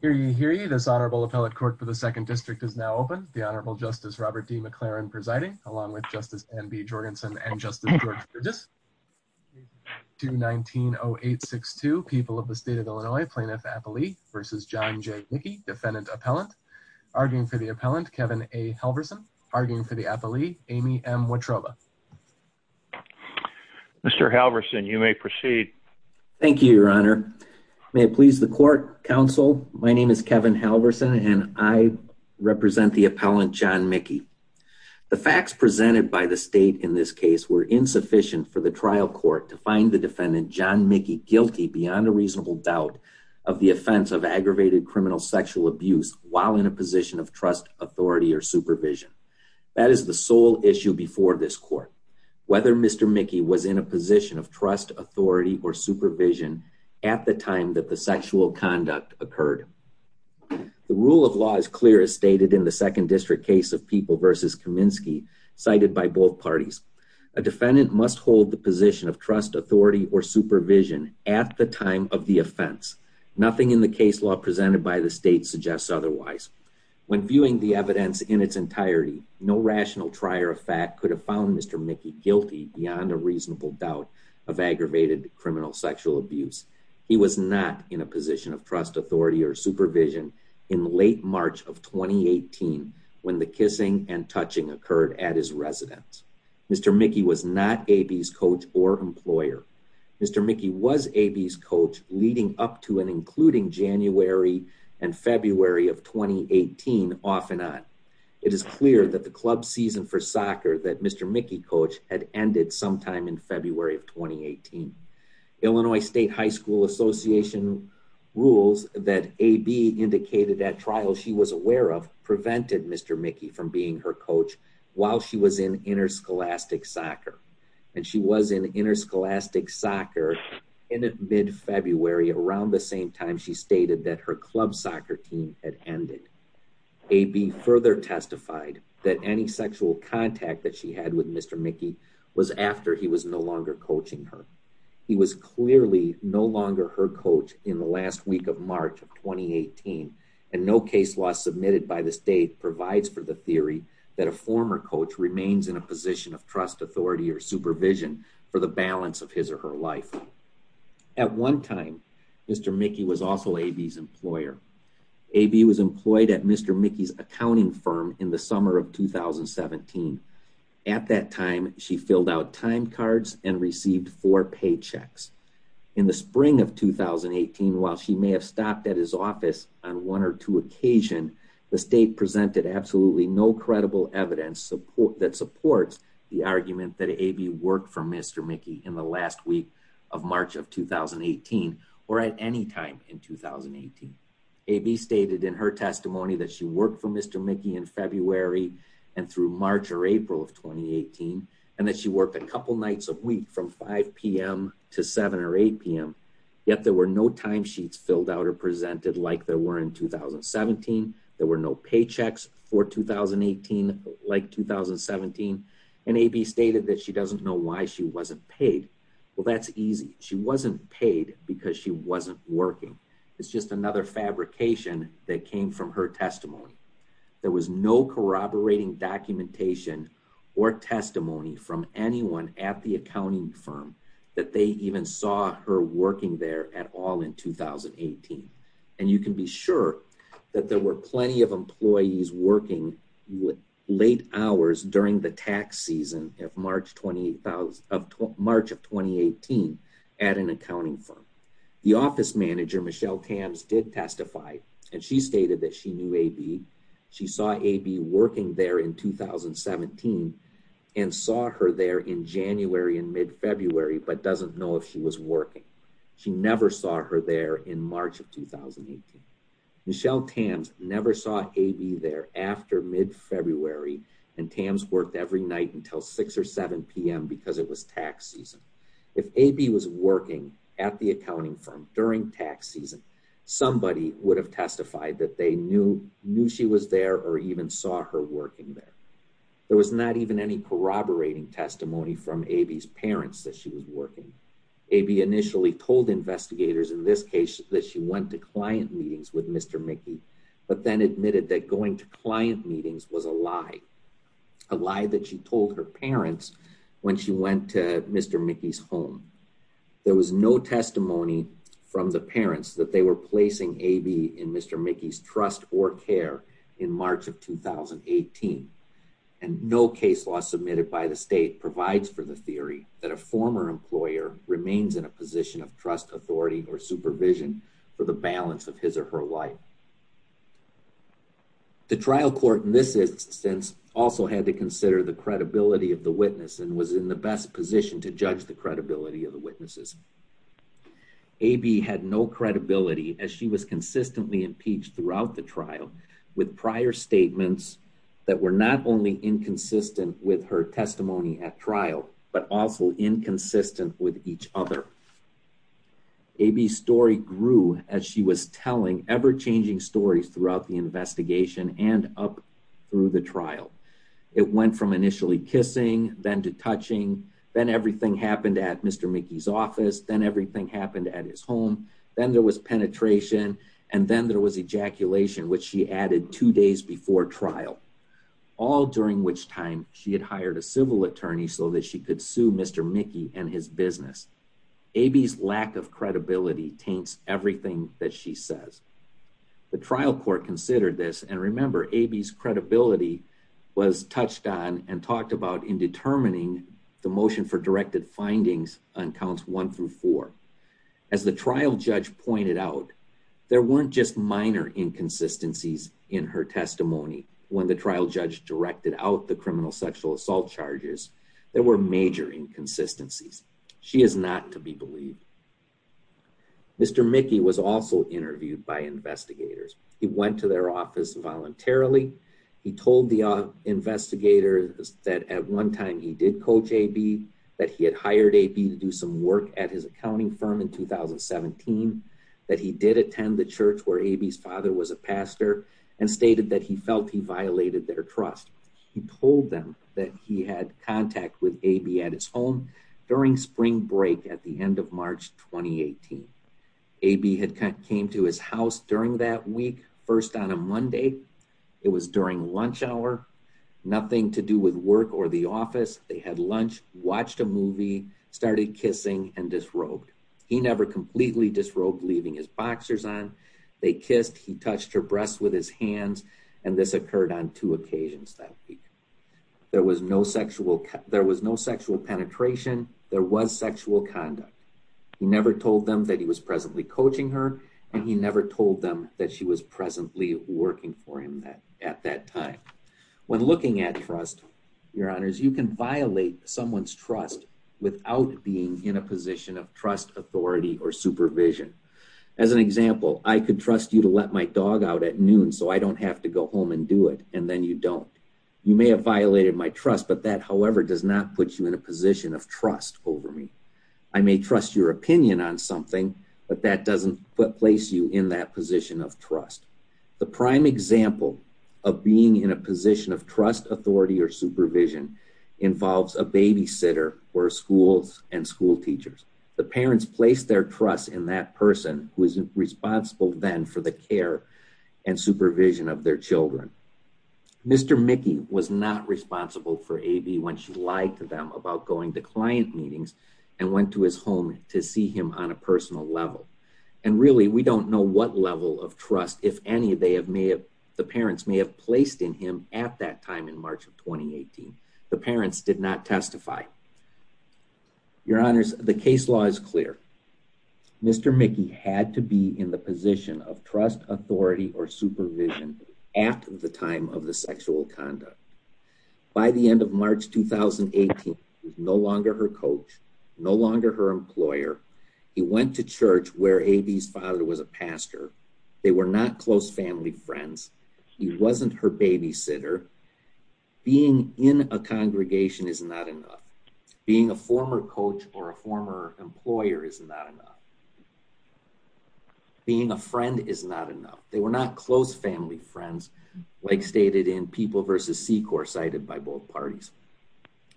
Hear you, hear you. This honorable appellate court for the Second District is now open. The Honorable Justice Robert D. McLaren presiding along with Justice N. B. Jorgensen and Justice George Burgess to 19 0862 people of the state of Illinois. Plaintiff appellee versus John J. Mickey, defendant appellant arguing for the appellant Kevin A. Halverson arguing for the appellee Amy M. Watroba. Mr. Halverson, you may proceed. Thank you, Your Honor. May it please the court counsel. My name is Kevin Halverson and I represent the appellant John Mickey. The facts presented by the state in this case were insufficient for the trial court to find the defendant John Mickey guilty beyond a reasonable doubt of the offense of aggravated criminal sexual abuse while in a position of trust, authority or supervision. That is the sole issue before this court. Whether Mr Mickey was in a position of trust, authority or supervision at the time that the sexual conduct occurred, the rule of law is clear, as stated in the Second District case of people versus Kaminsky, cited by both parties. A defendant must hold the position of trust, authority or supervision at the time of the offense. Nothing in the case law presented by the state suggests otherwise. When viewing the could have found Mr Mickey guilty beyond a reasonable doubt of aggravated criminal sexual abuse. He was not in a position of trust, authority or supervision in late March of 2018 when the kissing and touching occurred at his residence. Mr Mickey was not a B's coach or employer. Mr Mickey was a B's coach leading up to and including January and February of 2018 off and on. It is clear that the club season for soccer that Mr Mickey coach had ended sometime in February of 2018 Illinois State High School Association rules that a B indicated at trial she was aware of prevented Mr Mickey from being her coach while she was in interscholastic soccer and she was in interscholastic soccer in mid February. Around the same time, she further testified that any sexual contact that she had with Mr Mickey was after he was no longer coaching her. He was clearly no longer her coach in the last week of March of 2018 and no case law submitted by the state provides for the theory that a former coach remains in a position of trust, authority or supervision for the balance of his or her life. At one time, Mr Mickey was also a B's employer. A B was employed at Mr Mickey's accounting firm in the summer of 2017. At that time, she filled out time cards and received four paychecks. In the spring of 2018, while she may have stopped at his office on one or two occasion, the state presented absolutely no credible evidence support that supports the argument that a B worked for Mr Mickey in the last week of 2018. A B stated in her testimony that she worked for Mr Mickey in February and through March or April of 2018 and that she worked a couple nights a week from 5 p.m. to 7 or 8 p.m. Yet there were no time sheets filled out or presented like there were in 2017. There were no paychecks for 2018 like 2017 and a B stated that she doesn't know why she wasn't paid. Well, that's easy. She wasn't paid because she wasn't working. It's just another fabrication that came from her testimony. There was no corroborating documentation or testimony from anyone at the accounting firm that they even saw her working there at all in 2018. And you can be sure that there were plenty of employees working with late hours during the tax season of March of 2018 at an accounting firm. The office manager, Michelle Tams, did testify and she stated that she knew a B. She saw a B working there in 2017 and saw her there in January and mid-February but doesn't know if she was working. She never saw her there in March of 2018. Michelle Tams never saw a B there after mid-February and Tams worked every night until 6 or 7 p.m. because it was tax season. If a B was working at the accounting firm during tax season, somebody would have testified that they knew knew she was there or even saw her working there. There was not even any corroborating testimony from a B's parents that she was working. A B initially told investigators in this case that she went to client meetings with Mr. Mickey but then admitted that going to client meetings was a lie. A lie that she told her parents when she went to Mr. Mickey's home. There was no testimony from the parents that they were placing a B in Mr. Mickey's trust or care in March of 2018 and no case law submitted by the state provides for the of trust authority or supervision for the balance of his or her life. The trial court in this instance also had to consider the credibility of the witness and was in the best position to judge the credibility of the witnesses. A B had no credibility as she was consistently impeached throughout the trial with prior statements that were not only inconsistent with her testimony at trial but also inconsistent with each other. A B story grew as she was telling ever changing stories throughout the investigation and up through the trial. It went from initially kissing then to touching then everything happened at Mr. Mickey's office then everything happened at his home then there was penetration and then there was ejaculation which she added two days before trial. All during which time she had hired a civil attorney so that she could sue Mr. Mickey and his business. A B's lack of credibility taints everything that she says. The trial court considered this and remember A B's credibility was touched on and talked about in determining the motion for directed findings on counts one through four. As the trial judge pointed out, there weren't just minor inconsistencies in her testimony when the trial judge directed out the criminal sexual assault charges. There were major inconsistencies. She is not to be believed. Mr. Mickey was also interviewed by investigators. He went to their office voluntarily. He told the investigators that at one time he did coach A B, that he had hired A B to do some work at his accounting firm in 2017, that he did attend the church where A B's father was a pastor and stated that he felt he violated their trust. He told them that he had contact with A B at his home during spring break at the end of March 2018. A B had came to his house during that week first on a Monday. It was during lunch hour, nothing to do with work or the office. They had lunch, watched a movie, started kissing and disrobed. He never completely disrobed leaving his boxers on. They kissed, he touched her breasts with his hands and this occurred on two occasions that week. There was no sexual, there was no sexual penetration. There was sexual conduct. He never told them that he was presently coaching her and he never told them that she was presently working for him that at that time. When looking at trust, your honors, you can violate someone's trust without being in a position of trust, authority or supervision. As an example, I could trust you to let my dog out at noon so I don't have to go home and do it and then you don't. You may have violated my trust, but that however does not put you in a position of trust over me. I may trust your opinion on something, but that doesn't put place you in that position of trust. The prime example of being in a position of trust, authority or supervision involves a babysitter or schools and school teachers. The parents placed their trust in that person who is responsible then for the care and supervision of their children. Mr. Mickey was not responsible for A.B. when she lied to them about going to client meetings and went to his home to see him on a personal level. And really, we don't know what level of trust, if any, they have may have, the parents may have placed in him at that time in March of 2018. The parents did not testify. Your honors, the case law is clear. Mr. Mickey had to be in the position of trust, authority or supervision at the time of the sexual conduct. By the end of March 2018, he was no longer her coach, no longer her employer. He went to church where A.B.'s father was a pastor. They were not close family friends. He wasn't her babysitter. Being in a congregation is not enough. Being a former coach or a former employer is not enough. Being a friend is not enough. They were not close family friends, like stated in People v. Secor, cited by both parties.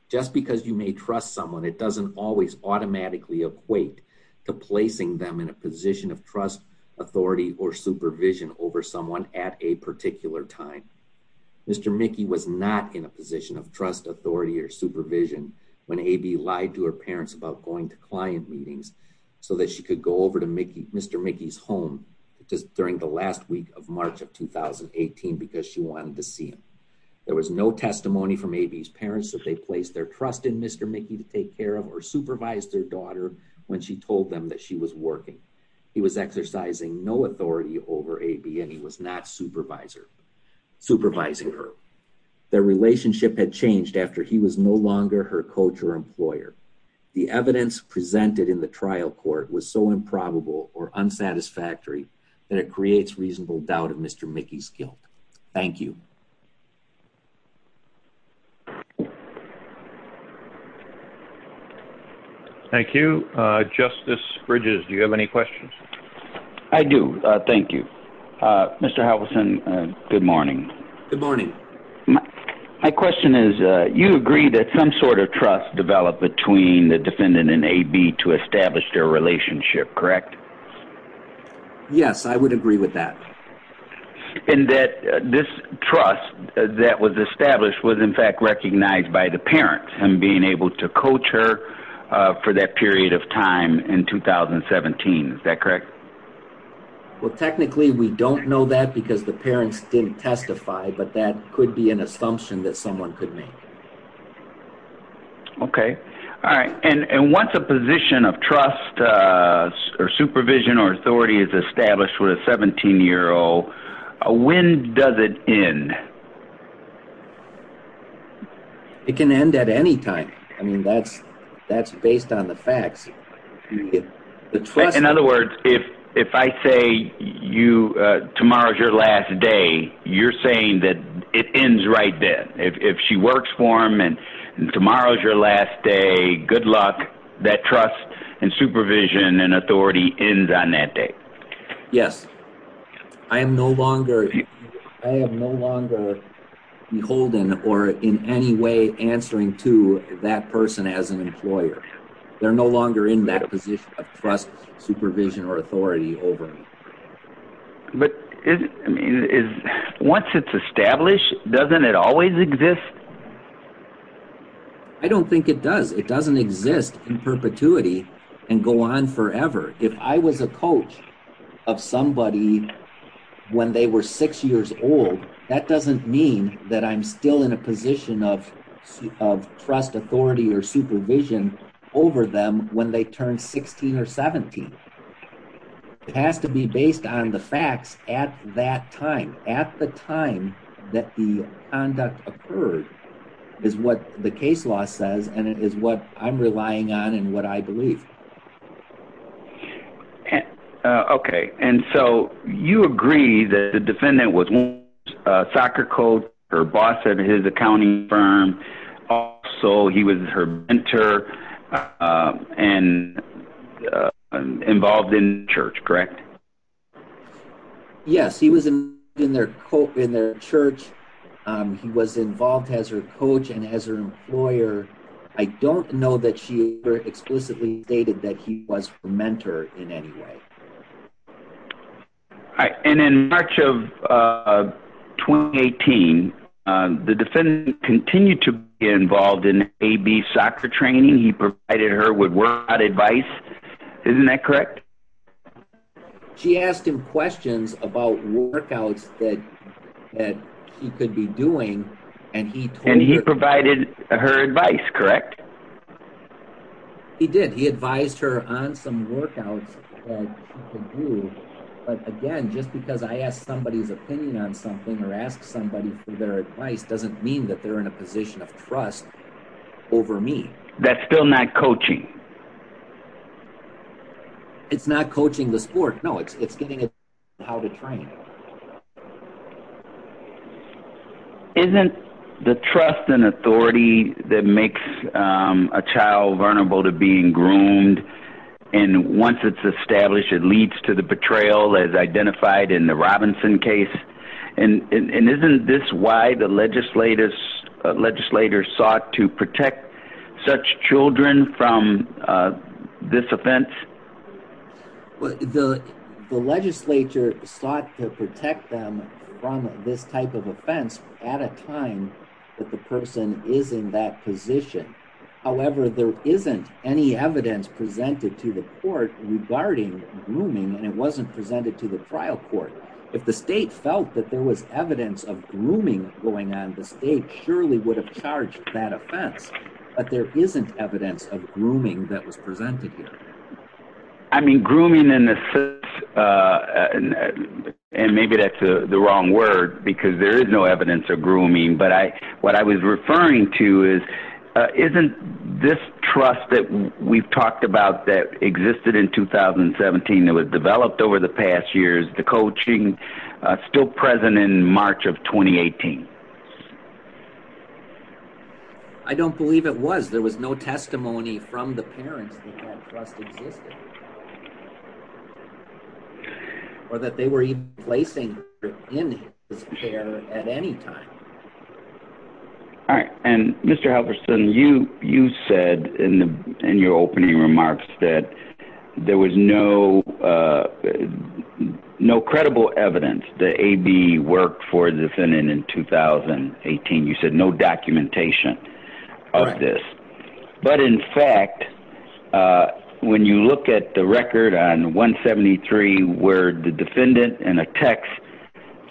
Just because you may trust someone, it doesn't always automatically equate to placing them in a position of trust, authority or supervision over someone at a particular time. Mr. Mickey was not in a position of trust, authority or supervision when A.B. lied to her parents about going to client meetings so that she could go over to Mr. Mickey's home just during the last week of March of 2018 because she wanted to see him. There was no testimony from A.B.'s parents that they placed their trust in Mr. Mickey to take care of or supervise their daughter when she told them that she was working. He was exercising no authority over A.B. and he was not supervising her. Their relationship had changed after he was no longer her coach or employer. The evidence presented in the trial court was so improbable or unsatisfactory that it creates reasonable doubt of Mr. Mickey's guilt. Thank you. Thank you. Justice Bridges, do you have any questions? I do, thank you. Mr. Halverson, good morning. Good morning. My question is, you agree that some sort of trust developed between the defendant and A.B. to establish their relationship, correct? Yes, I would agree with that. And that this trust that was established was in fact recognized by the parents and being able to coach her for that period of time in 2017, is that correct? Well, technically we don't know that because the parents didn't testify, but that could be an assumption that someone could make. Okay. All right. And once a position of trust or supervision or authority is established with a 17-year-old, when does it end? It can end at any time. I mean, that's based on the facts. In other words, if I say tomorrow's your last day, you're saying that it ends right then. If she works for him and tomorrow's your last day, good luck. That trust and supervision and authority ends on that day. Yes. I am no longer beholden or in any way answering to that person as an employer. They're no longer in that position of trust, supervision, or authority over me. But once it's established, doesn't it always exist? I don't think it does. It doesn't exist in perpetuity and go on forever. If I was a coach of somebody when they were six years old, that doesn't mean that I'm still in a position of trust, authority, or 17. It has to be based on the facts at that time. At the time that the conduct occurred is what the case law says and it is what I'm relying on and what I believe. Okay. And so you agree that the defendant was a soccer coach, her boss at his accounting firm. Also, he was her mentor and involved in church, correct? Yes. He was in their church. He was involved as her coach and as her employer. I don't know that she explicitly stated that he was her mentor in any way. And in March of 2018, the defendant continued to be involved in A-B soccer training. He provided her with workout advice. Isn't that correct? She asked him questions about workouts that he could be doing and he provided her advice, correct? He did. He advised her on some workouts that he could do. But again, just because I asked somebody's opinion on something or asked somebody for their advice doesn't mean that they're in a position of trust over me. That's still not coaching? It's not a child vulnerable to being groomed and once it's established, it leads to the betrayal as identified in the Robinson case. And isn't this why the legislators sought to protect such children from this offense? The legislature sought to protect them from this type of offense at a time that the person is in that position. However, there isn't any evidence presented to the court regarding grooming and it wasn't presented to the trial court. If the state felt that there was evidence of grooming going on, the state surely would have charged that offense. But there isn't evidence of grooming that was presented here. I mean, grooming in the sense, and maybe that's the wrong word, because there is no evidence of grooming. But what I was referring to is, isn't this trust that we've talked about that existed in 2017 that was developed over the past years, the coaching still present in March of 2018? I don't believe it was. There was no testimony from the parents that that trust existed or that they were even placing in his care at any time. All right, and Mr. Halverson, you said in your opening remarks that there was no credible evidence that AB worked for the defendant in 2018. You said no documentation of this. But in fact, when you look at the record on 173 where the defendant in a text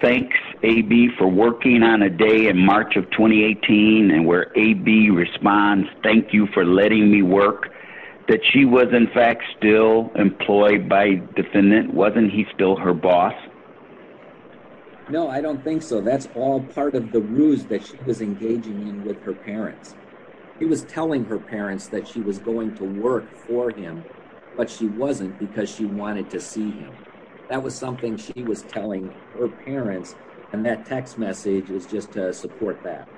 thanks AB for working on a day in March of 2018 and where AB responds, thank you for letting me work, that she was in fact still employed by defendant. Wasn't he still her boss? No, I don't think so. That's all part of the ruse that she was engaging in with her parents. He was telling her parents that she was going to work for him, but she wasn't because she wanted to see him. That was something she was telling her parents and that text message is just to support that.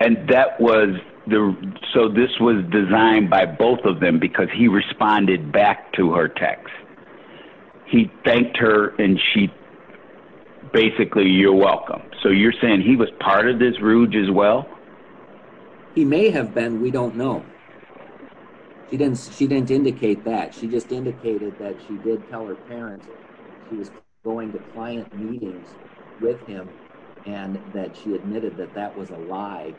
And that was the, so this was designed by both of them because he responded back to her text. He thanked her and she basically, you're welcome. So you're saying he was part of this ruse as well? He may have been, we don't know. She didn't indicate that. She just indicated that she did tell her parents he was going to client meetings with him and that she admitted that that was a lie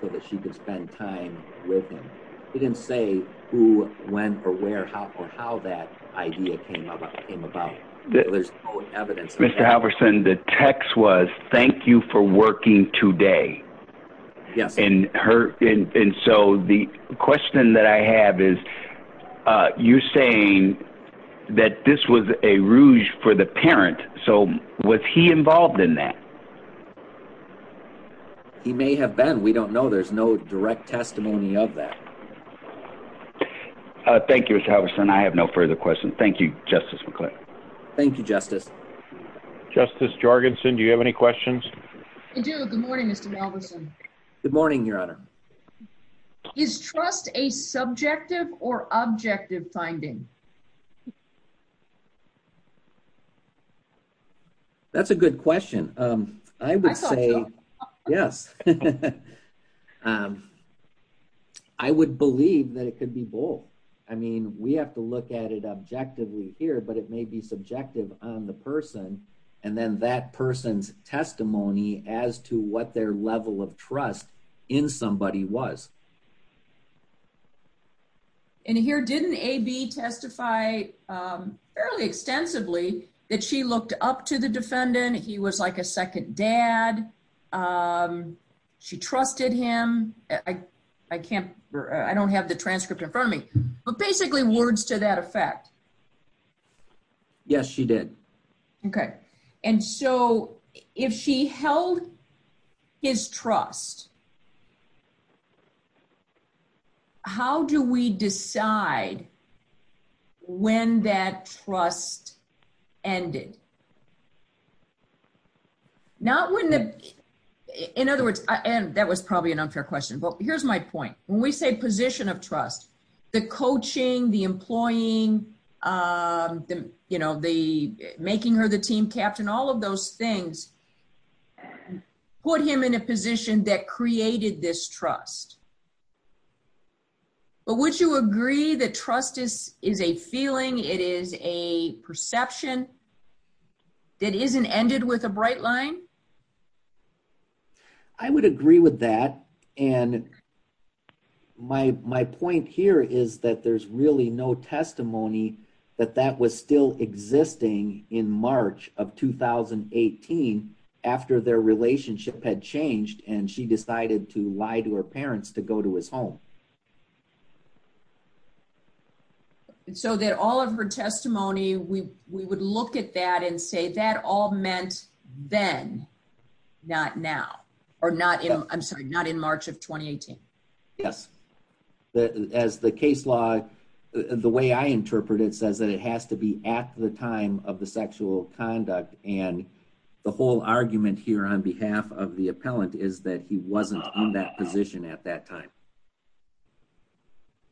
so that she could spend time with him. He didn't say who, when, or where, how, or how that idea came up. Mr. Halverson, the text was thank you for working today. Yes. And her, and so the question that I have is, you're saying that this was a ruse for the parent. So was he involved in that? He may have been, we don't know. There's no direct testimony of that. Thank you, Mr. Halverson. I have no further questions. Thank you, Justice McClain. Thank you, Justice. Justice Jorgensen. Do you have any questions? I would say, yes. I would believe that it could be both. I mean, we have to look at it objectively here, but it may be subjective on the person and then that person's testimony as to what their level of trust in somebody was. And here, didn't AB testify fairly extensively that she looked up to the defendant? He was like a second dad. She trusted him. I can't, I don't have the transcript in me, but basically words to that effect. Yes, she did. Okay. And so if she held his trust, how do we decide when that trust ended? In other words, and that was probably an unfair question, but here's my point. When we say position of trust, the coaching, the employing, the making her the team captain, all of those things put him in a position that created this trust. But would you agree that trust is a feeling, it is a perception that isn't ended with a bright line? I would agree with that. And my point here is that there's really no testimony that that was still existing in March of 2018 after their relationship had changed and she decided to lie to her parents to go to his home. So that all of her testimony, we would look at that and say that all meant then, not now or not in, I'm sorry, not in March of 2018. Yes. As the case law, the way I interpret it says that it has to be at the time of the sexual conduct. And the whole argument here on behalf of the appellant is that he wasn't in that position at that time.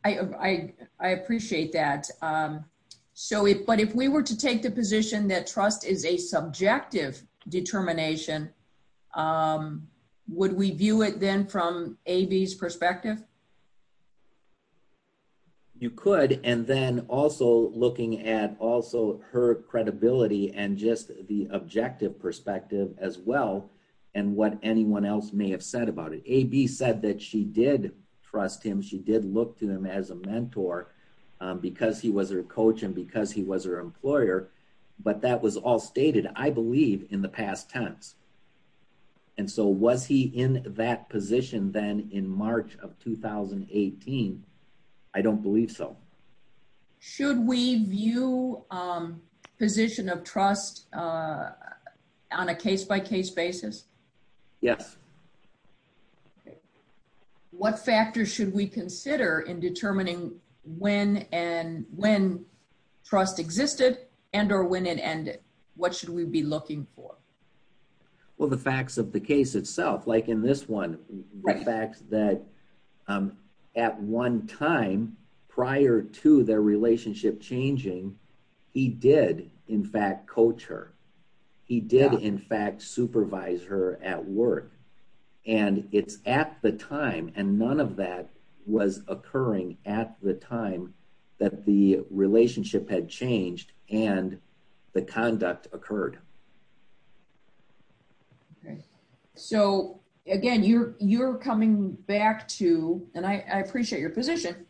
I appreciate that. But if we were to take the position that trust is a subjective determination, would we view it then from AV's perspective? You could. And then also looking at also her credibility and just the objective perspective as well and what anyone else may have said about it. AV said that she did trust him. She did look to them as a mentor because he was her coach and because he was her employer. But that was all stated, I believe, in the past tense. And so was he in that position then in March of 2018? I don't believe so. Should we view position of trust on a case by case basis? Yes. What factors should we consider in determining when and when trust existed and or when it ended? What should we be looking for? Well, the facts of the case itself, like in this one, the fact that at one time prior to their relationship changing, he did, in fact, coach her. He did, in fact, supervise her at work. And it's at the time and none of that was occurring at the time that the relationship had changed and the trust was there. So again, you're coming back to, and I appreciate your position,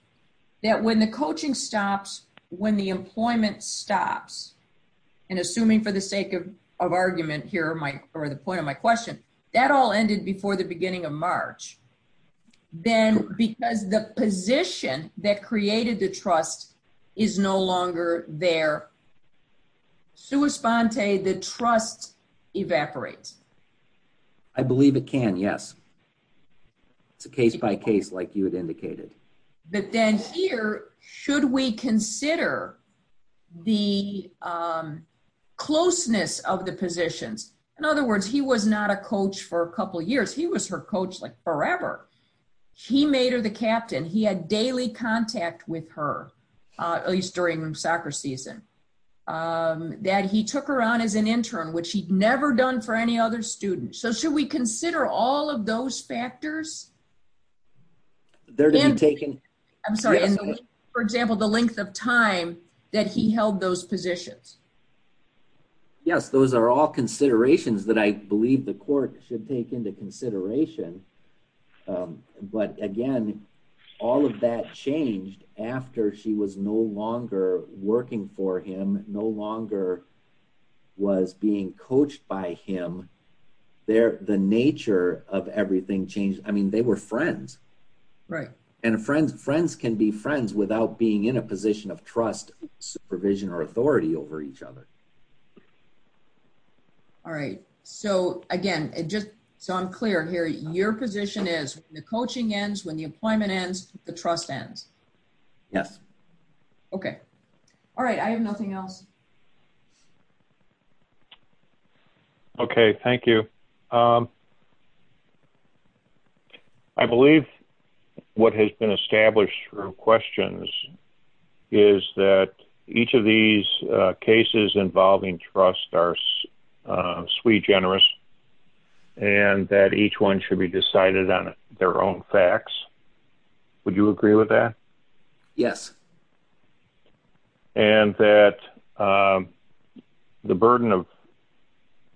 that when the coaching stops, when the employment stops, and assuming for the sake of argument here, or the point of my question, that all ended before the beginning of March. Then because the position that evaporates? I believe it can, yes. It's a case by case, like you had indicated. But then here, should we consider the closeness of the positions? In other words, he was not a coach for a couple years. He was her coach like forever. He made her the captain. He had daily contact with her, at least during soccer season, that he took her on as an intern, which he'd never done for any other student. So should we consider all of those factors? There to be taken? I'm sorry, for example, the length of time that he held those positions? Yes, those are all considerations that I believe the court should take into consideration. But again, all of that changed after she was no longer working for him, no longer was being coached by him. There, the nature of everything changed. I mean, they were friends, right? And friends, friends can be friends without being in a position of trust, supervision or authority over each other. All right. So again, just so I'm clear here, your position is the coaching ends when the employment ends, the trust ends? Yes. Okay. All right. I have nothing else. Okay, thank you. I believe what has been established through questions is that each of these cases involving trust are sui generis, and that each one should be decided on their own facts. Would you agree with that? Yes. And that the burden of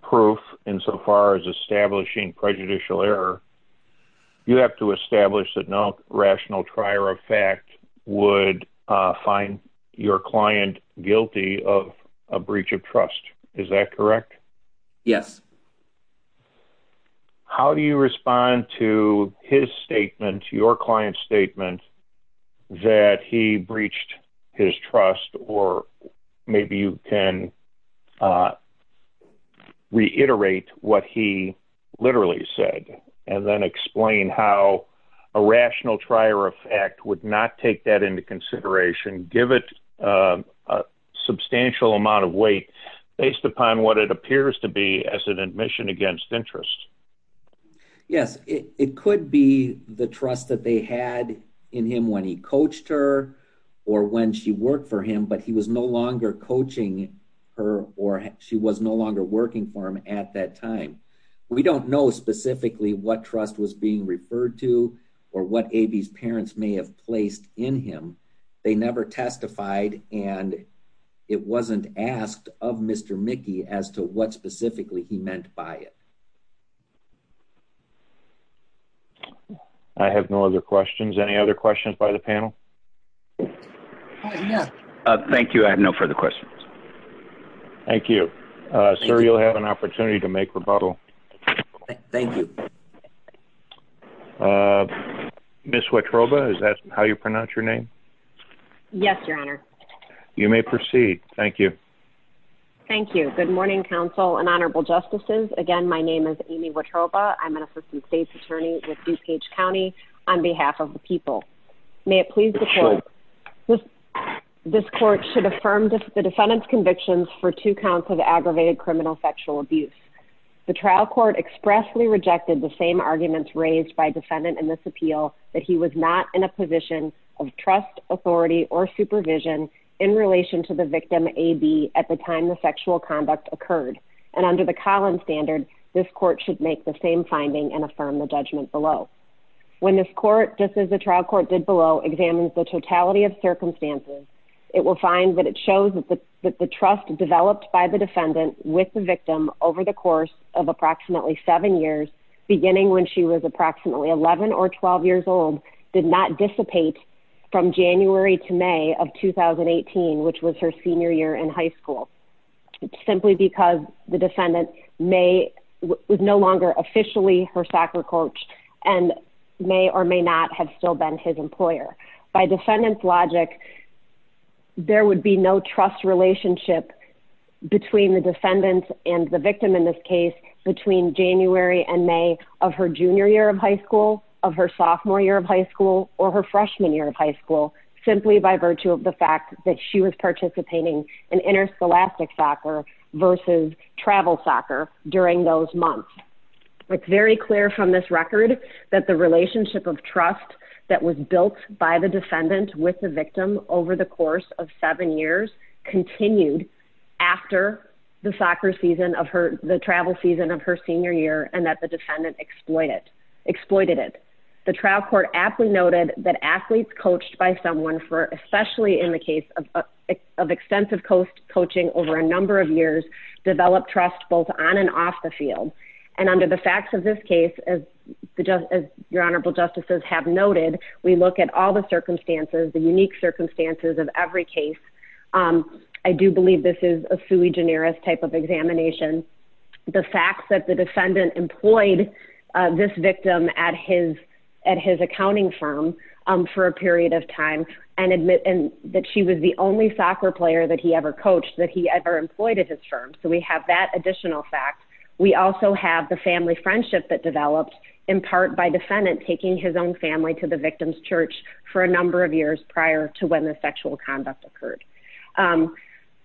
proof insofar as establishing prejudicial error, you have to establish that no rational trier of fact would find your client's statement that he breached his trust, or maybe you can reiterate what he literally said, and then explain how a rational trier of fact would not take that into consideration, give it a substantial amount of weight, based upon what it says in admission against interest. Yes, it could be the trust that they had in him when he coached her, or when she worked for him, but he was no longer coaching her, or she was no longer working for him at that time. We don't know specifically what trust was being referred to, or what AB's parents may have placed in him. They never testified, and it wasn't asked of Mr. Mickey as to what specifically he meant by it. I have no other questions. Any other questions by the panel? Thank you, I have no further questions. Thank you. Sir, you'll have an opportunity to make rebuttal. Thank you. Ms. Wetroba, is that how you pronounce your name? Yes, your honor. You may begin. Thank you, your honor. I'm Amy Wetroba. I'm an assistant state's attorney with DuPage County on behalf of the people. May it please the court, this court should affirm the defendant's convictions for two counts of aggravated criminal sexual abuse. The trial court expressly rejected the same arguments raised by defendant in this appeal, that he was not in a position of trust, authority, or supervision in relation to the victim, AB, at the time the sexual conduct occurred. And under the Collins standard, this court should make the same finding and affirm the judgment below. When this court, just as the trial court did below, examines the totality of circumstances, it will find that it shows that the trust developed by the defendant with the victim over the course of approximately seven years, beginning when she was approximately 11 or 12 years old, did not dissipate from January to May of 2018, which was her senior year in high school, simply because the defendant was no longer officially her soccer coach and may or may not have still been his employer. By defendant's logic, there would be no trust relationship between the defendant and the victim or her freshman year of high school, simply by virtue of the fact that she was participating in interscholastic soccer versus travel soccer during those months. It's very clear from this record that the relationship of trust that was built by the defendant with the victim over the course of seven years continued after the travel season of her senior year and that the defendant exploited it. The trial court aptly noted that athletes coached by someone, especially in the case of extensive coaching over a number of years, developed trust both on and off the field. And under the facts of this case, as your I do believe this is a sui generis type of examination. The fact that the defendant employed this victim at his accounting firm for a period of time and admit that she was the only soccer player that he ever coached, that he ever employed at his firm. So we have that additional fact. We also have the family friendship that developed in part by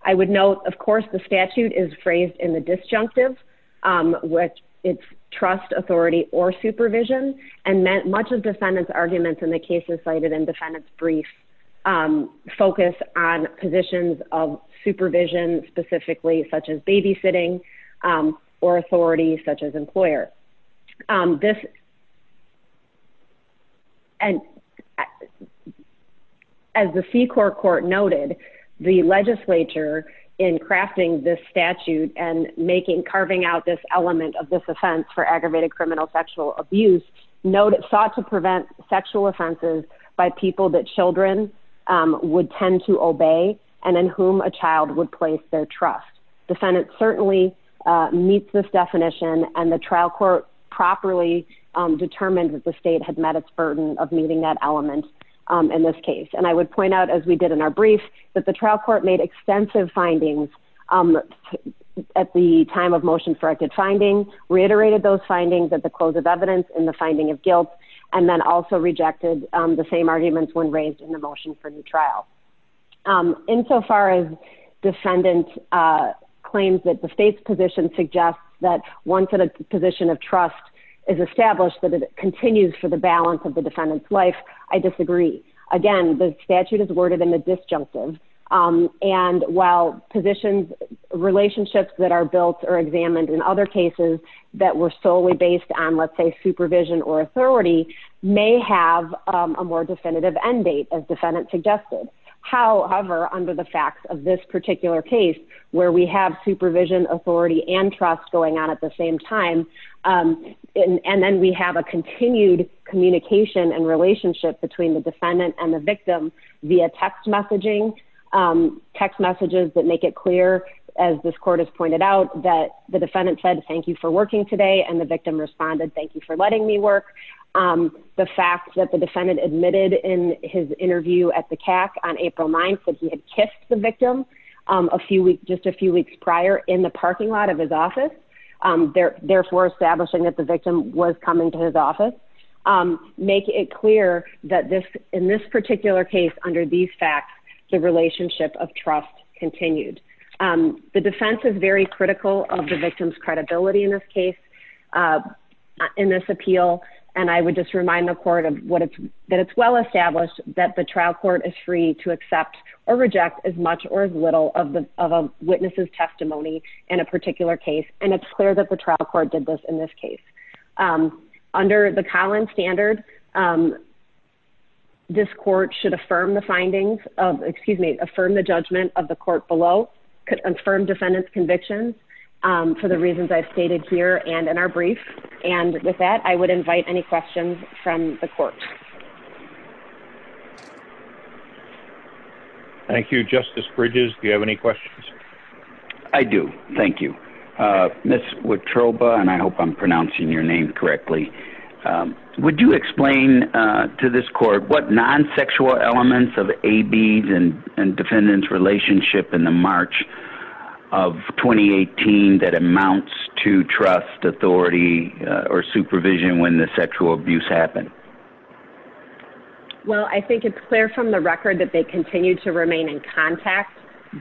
I would note, of course, the statute is phrased in the disjunctive, which it's trust authority or supervision and meant much of defendants arguments in the cases cited in defendant's brief focus on positions of supervision, specifically such as babysitting or authority such as employer. This And As the C CORE court noted the legislature in crafting this statute and making carving out this element of this offense for aggravated criminal sexual abuse. Note it sought to prevent sexual offenses by people that children would tend to obey and then whom a child would place their trust defendant certainly meets this definition and the trial court properly determined that the state had met its burden of meeting that element in this case. And I would point out as we did in our brief that the trial court made extensive findings. At the time of motion for a good finding reiterated those findings at the close of evidence in the finding of guilt and then also rejected the same arguments when raised in the motion for new trial. In so far as defendant claims that the state's position suggests that once in a position of trust is established that it continues for the balance of the defendant's life. I disagree. Again, the statute is worded in the disjunctive And while positions relationships that are built or examined in other cases that were solely based on, let's say, supervision or authority may have A more definitive end date as defendant suggested. However, under the facts of this particular case where we have supervision authority and trust going on at the same time. And then we have a continued communication and relationship between the defendant and the victim via text messaging. Text messages that make it clear as this court has pointed out that the defendant said thank you for working today and the victim responded. Thank you for letting me work. The fact that the defendant admitted in his interview at the CAC on April 9 that he had kissed the victim a few weeks, just a few weeks prior in the parking lot of his office. There, therefore, establishing that the victim was coming to his office, make it clear that this in this particular case under these facts, the relationship of trust continued the defense is very critical of the victim's credibility in this case. In this appeal, and I would just remind the court of what it's that it's well established that the trial court is free to accept or reject as much or as little of the witnesses testimony in a particular case. And it's clear that the trial court did this in this case. Under the Collins standard This court should affirm the findings of, excuse me, affirm the judgment of the court below could affirm defendants conviction for the reasons I've stated here and in our brief. And with that, I would invite any questions from the court. Thank you, Justice Bridges. Do you have any questions. I do. Thank you, Miss with troba and I hope I'm pronouncing your name correctly. Would you explain to this court what non sexual elements of a beads and and defendants relationship in the March of That amounts to trust authority or supervision when the sexual abuse happen. Well, I think it's clear from the record that they continue to remain in contact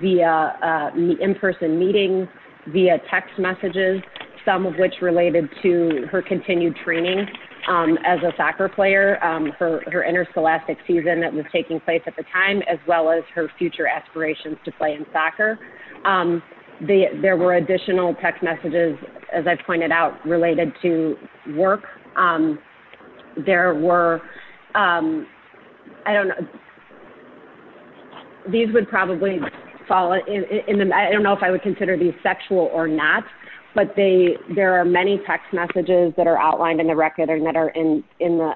via me in person meeting via text messages, some of which related to her continued training. As a soccer player for her interscholastic season that was taking place at the time, as well as her future aspirations to play in soccer. The there were additional text messages, as I pointed out, related to work. There were I don't know. These would probably fall in the I don't know if I would consider the sexual or not, but they there are many text messages that are outlined in the record and that are in in the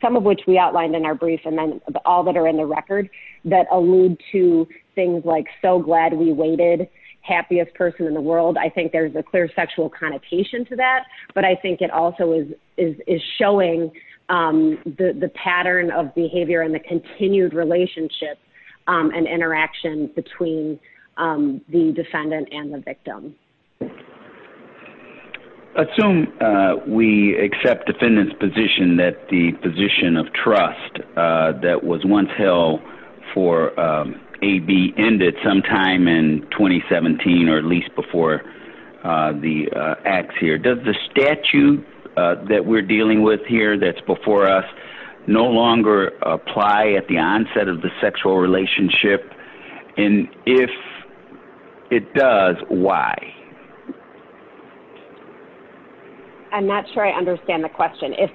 Some of which we outlined in our brief and then all that are in the record that allude to things like so glad we waited happiest person in the world. I think there's a clear sexual connotation to that, but I think it also is Is showing the pattern of behavior and the continued relationship and interaction between the defendant and the victim. Assume we accept defendants position that the position of trust that was once hell for a be ended sometime in 2017 or at least before The acts here does the statute that we're dealing with here that's before us no longer apply at the onset of the sexual relationship in if it does, why I'm not sure I understand the question if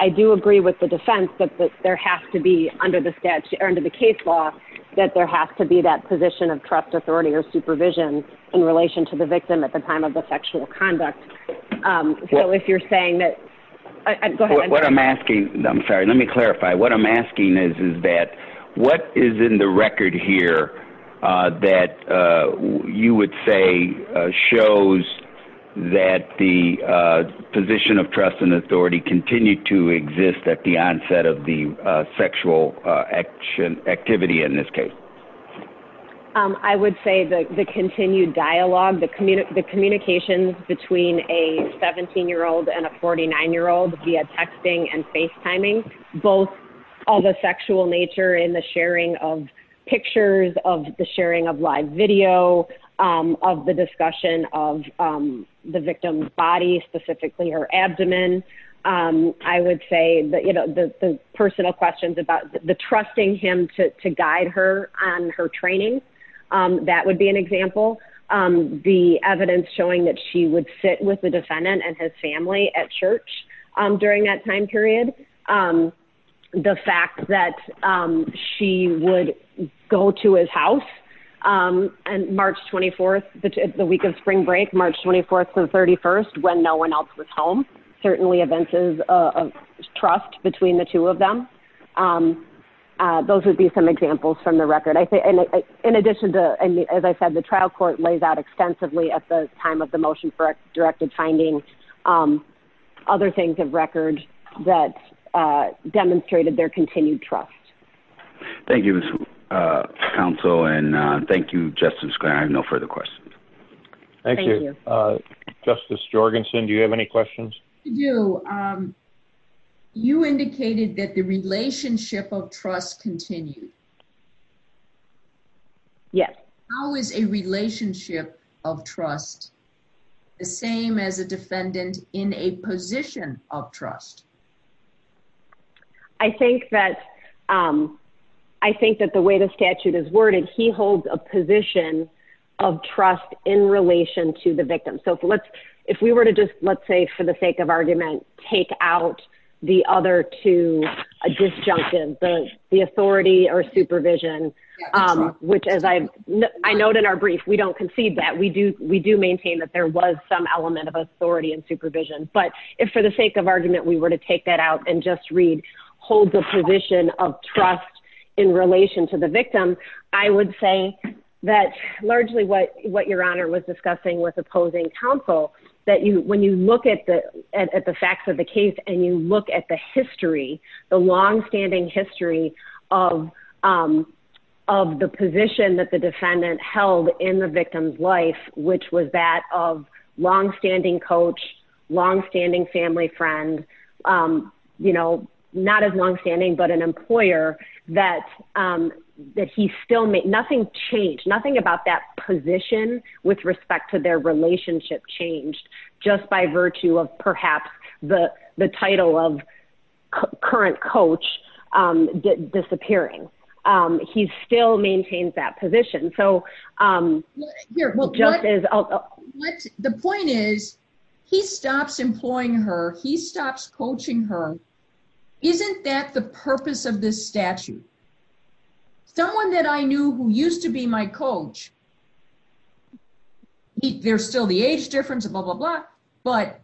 I do agree with the defense, but there has to be under the sketch or under the case law that there has to be that position of trust authority or supervision in relation to the victim at the time of the sexual conduct. So if you're saying that What I'm asking. I'm sorry. Let me clarify what I'm asking is, is that what is in the record here that you would say shows that the position of trust and authority continue to exist at the onset of the sexual action activity in this case. I would say the continued dialogue, the community, the communications between a 17 year old and a 49 year old via texting and FaceTiming both All the sexual nature in the sharing of pictures of the sharing of live video of the discussion of the victim's body specifically her abdomen. I would say that, you know, the personal questions about the trusting him to guide her on her training. That would be an example. The evidence showing that she would sit with the defendant and his family at church during that time period. The fact that she would go to his house. And March 24 the week of spring break March 24 and 31 when no one else was home certainly events is a trust between the two of them. Those would be some examples from the record. I think, in addition to, as I said, the trial court lays out extensively at the time of the motion for directed finding Other things of record that demonstrated their continued trust. Thank you. Council and thank you, Justin. I have no further questions. Thank you. Justice Jorgensen. Do you have any questions. You You indicated that the relationship of trust continue Yes. How is a relationship of trust, the same as a defendant in a position of trust. I think that I think that the way the statute is worded. He holds a position of trust in relation to the victim. So let's if we were to just, let's say, for the sake of argument, take out the other to a disjunctive the the authority or supervision. Which, as I know, I know that our brief. We don't concede that we do we do maintain that there was some element of authority and supervision, but if for the sake of argument, we were to take that out and just read Hold the position of trust in relation to the victim. I would say that largely what what your honor was discussing with opposing counsel that you when you look at the at the facts of the case and you look at the history, the long standing history of Of the position that the defendant held in the victim's life, which was that of long standing coach long standing family friend. You know, not as long standing, but an employer that that he still make nothing change nothing about that position with respect to their relationship changed just by virtue of perhaps the the title of Current coach disappearing. He's still maintains that position so You're The point is, he stops employing her he stops coaching her. Isn't that the purpose of this statute. Someone that I knew who used to be my coach. There's still the age difference, blah, blah, blah, but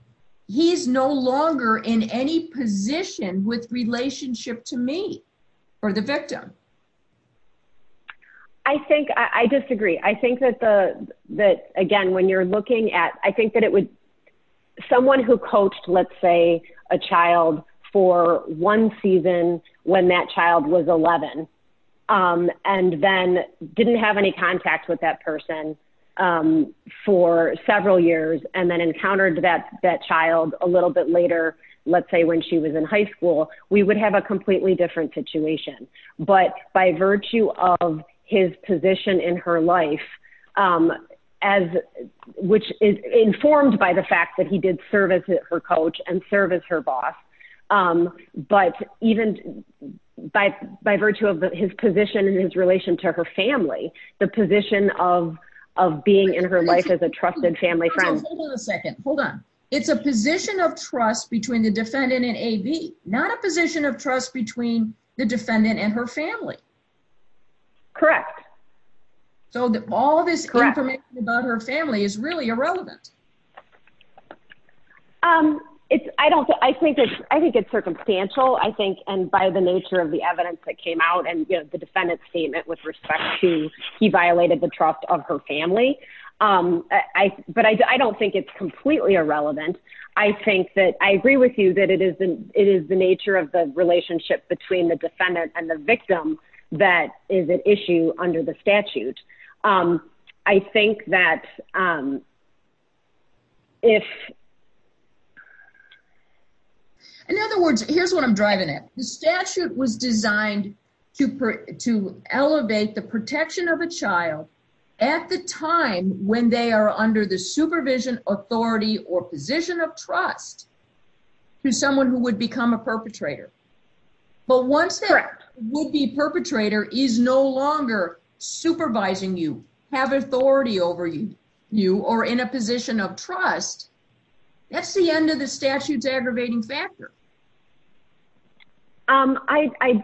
he's no longer in any position with relationship to me or the victim. I think I disagree. I think that the that again when you're looking at, I think that it would someone who coached, let's say a child for one season when that child was 11 And then didn't have any contact with that person. For several years and then encountered that that child, a little bit later, let's say when she was in high school, we would have a completely different situation, but by virtue of his position in her life. As which is informed by the fact that he did service her coach and service her boss. But even by by virtue of his position in his relation to her family, the position of of being in her life as a trusted family friend. Hold on a second. Hold on. It's a position of trust between the defendant and a V, not a position of trust between the defendant and her family. Correct. So that all this About her family is really irrelevant. Um, it's, I don't think I think it's I think it's circumstantial, I think, and by the nature of the evidence that came out and the defendant statement with respect to he violated the trust of her family. I but I don't think it's completely irrelevant. I think that I agree with you that it is the it is the nature of the relationship between the defendant and the victim. That is an issue under the statute. I think that Um, If In other words, here's what I'm driving at the statute was designed to to elevate the protection of a child at the time when they are under the supervision authority or position of trust to someone who would become a perpetrator. But once that will be perpetrator is no longer supervising you have authority over you, you are in a position of trust. That's the end of the statutes aggravating factor. Um, I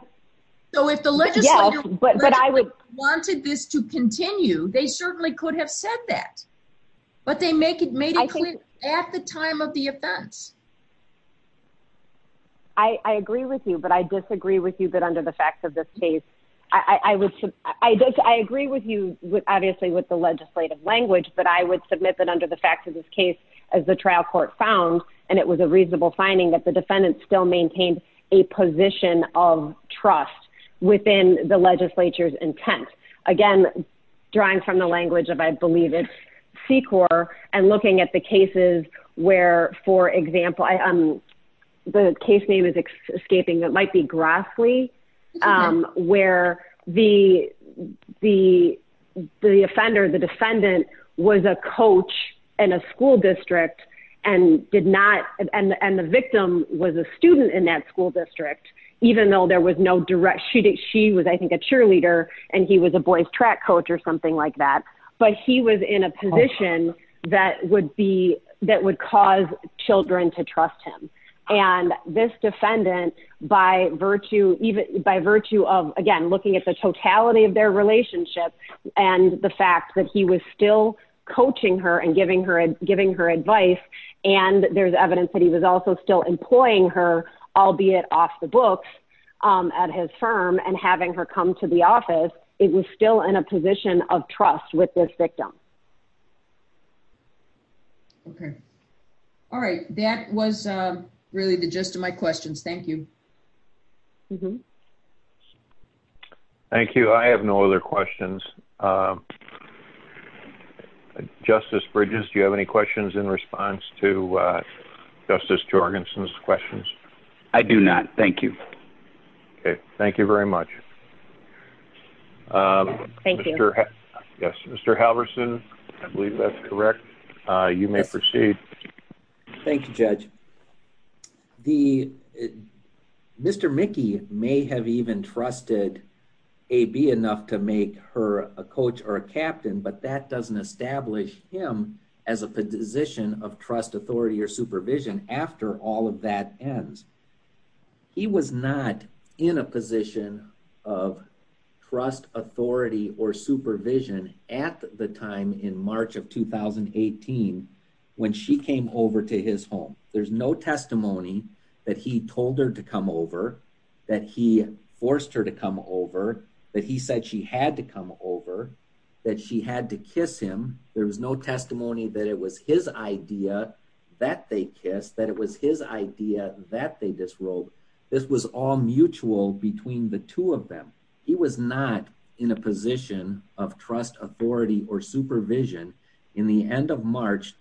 Know if the legislature. But, but I would Wanted this to continue. They certainly could have said that, but they make it made. I think at the time of the offense. I agree with you, but I disagree with you. But under the facts of this case, I was, I just, I agree with you. Obviously, with the legislative language, but I would submit that under the facts of this case as the trial court found And it was a reasonable finding that the defendant still maintained a position of trust within the legislature's intent. Again, drawing from the language of I believe it's And looking at the cases where, for example, I am the case name is escaping that might be Grassley where the, the, the offender. The defendant was a coach and a school district and did not and and the victim was a student in that school district, even though there was no direct she did. She was, I think, a cheerleader and he was a boys track coach or something like that, but he was in a position That would be that would cause children to trust him and this defendant by virtue, even by virtue of, again, looking at the totality of their relationship. And the fact that he was still coaching her and giving her and giving her advice and there's evidence that he was also still employing her, albeit off the books at his firm and having her come to the office. It was still in a position of trust with this victim. Okay. All right. That was really the gist of my questions. Thank you. Thank you. I have no other questions. Justice Bridges. Do you have any questions in response to Justice Jorgensen's questions. I do not. Thank you. Okay, thank you very much. Thank you, sir. Yes, Mr. Halvorson. I believe that's correct. You may proceed. Thank you, Judge. The Mr Mickey may have even trusted a be enough to make her a coach or a captain, but that doesn't establish him as a position of trust authority or supervision. After all of that ends. He was not in a position of trust authority or supervision at the time in March of When she came over to his home. There's no testimony that he told her to come over that he forced her to come over that he said she had to come over That she had to kiss him. There was no testimony that it was his idea that they kiss that it was his idea that they this world. This was all mutual between the two of them. He was not in a position of trust authority or supervision in the end of March.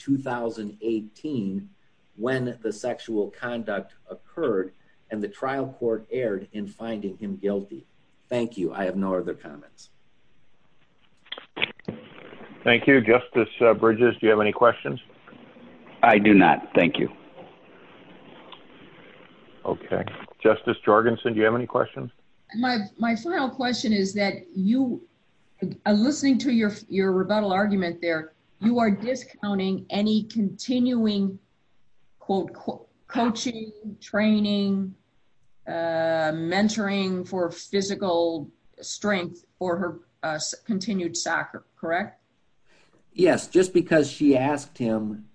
When the sexual conduct occurred and the trial court aired in finding him guilty. Thank you. I have no other comments. Thank you, Justice bridges. Do you have any questions. I do not. Thank you. Okay, Justice Jorgensen. Do you have any questions. My, my final question is that you are listening to your, your rebuttal argument there you are discounting any continuing quote coaching training. Mentoring for physical strength for her continued soccer. Correct. Yes, just because she asked him,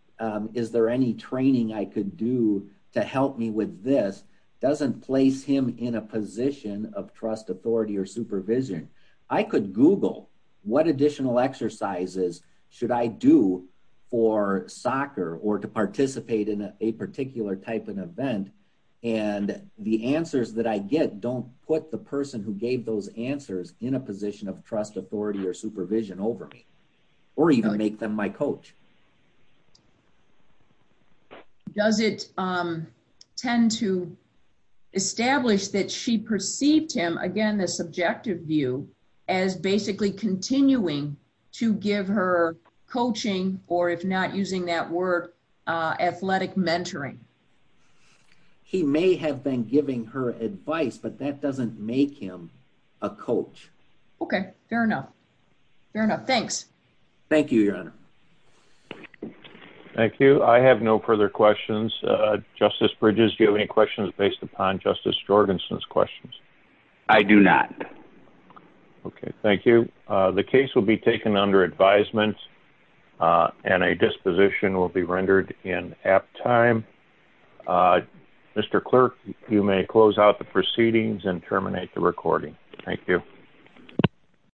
is there any training. I could do to help me with this doesn't place him in a position of trust authority or supervision. I could Google what additional exercises. Should I do for soccer or to participate in a particular type of event and the answers that I get. Don't put the person who gave those answers in a position of trust authority or supervision over me or even make them my coach. Does it Tend to establish that she perceived him again the subjective view as basically continuing to give her coaching or if not using that word athletic mentoring. He may have been giving her advice, but that doesn't make him a coach. Okay, fair enough. Fair enough. Thanks. Thank you, Your Honor. Thank you. I have no further questions. Justice bridges. Do you have any questions based upon Justice Jorgensen's questions. I do not. Okay, thank you. The case will be taken under advisement and a disposition will be rendered in app time. Mr. Clerk, you may close out the proceedings and terminate the recording. Thank you.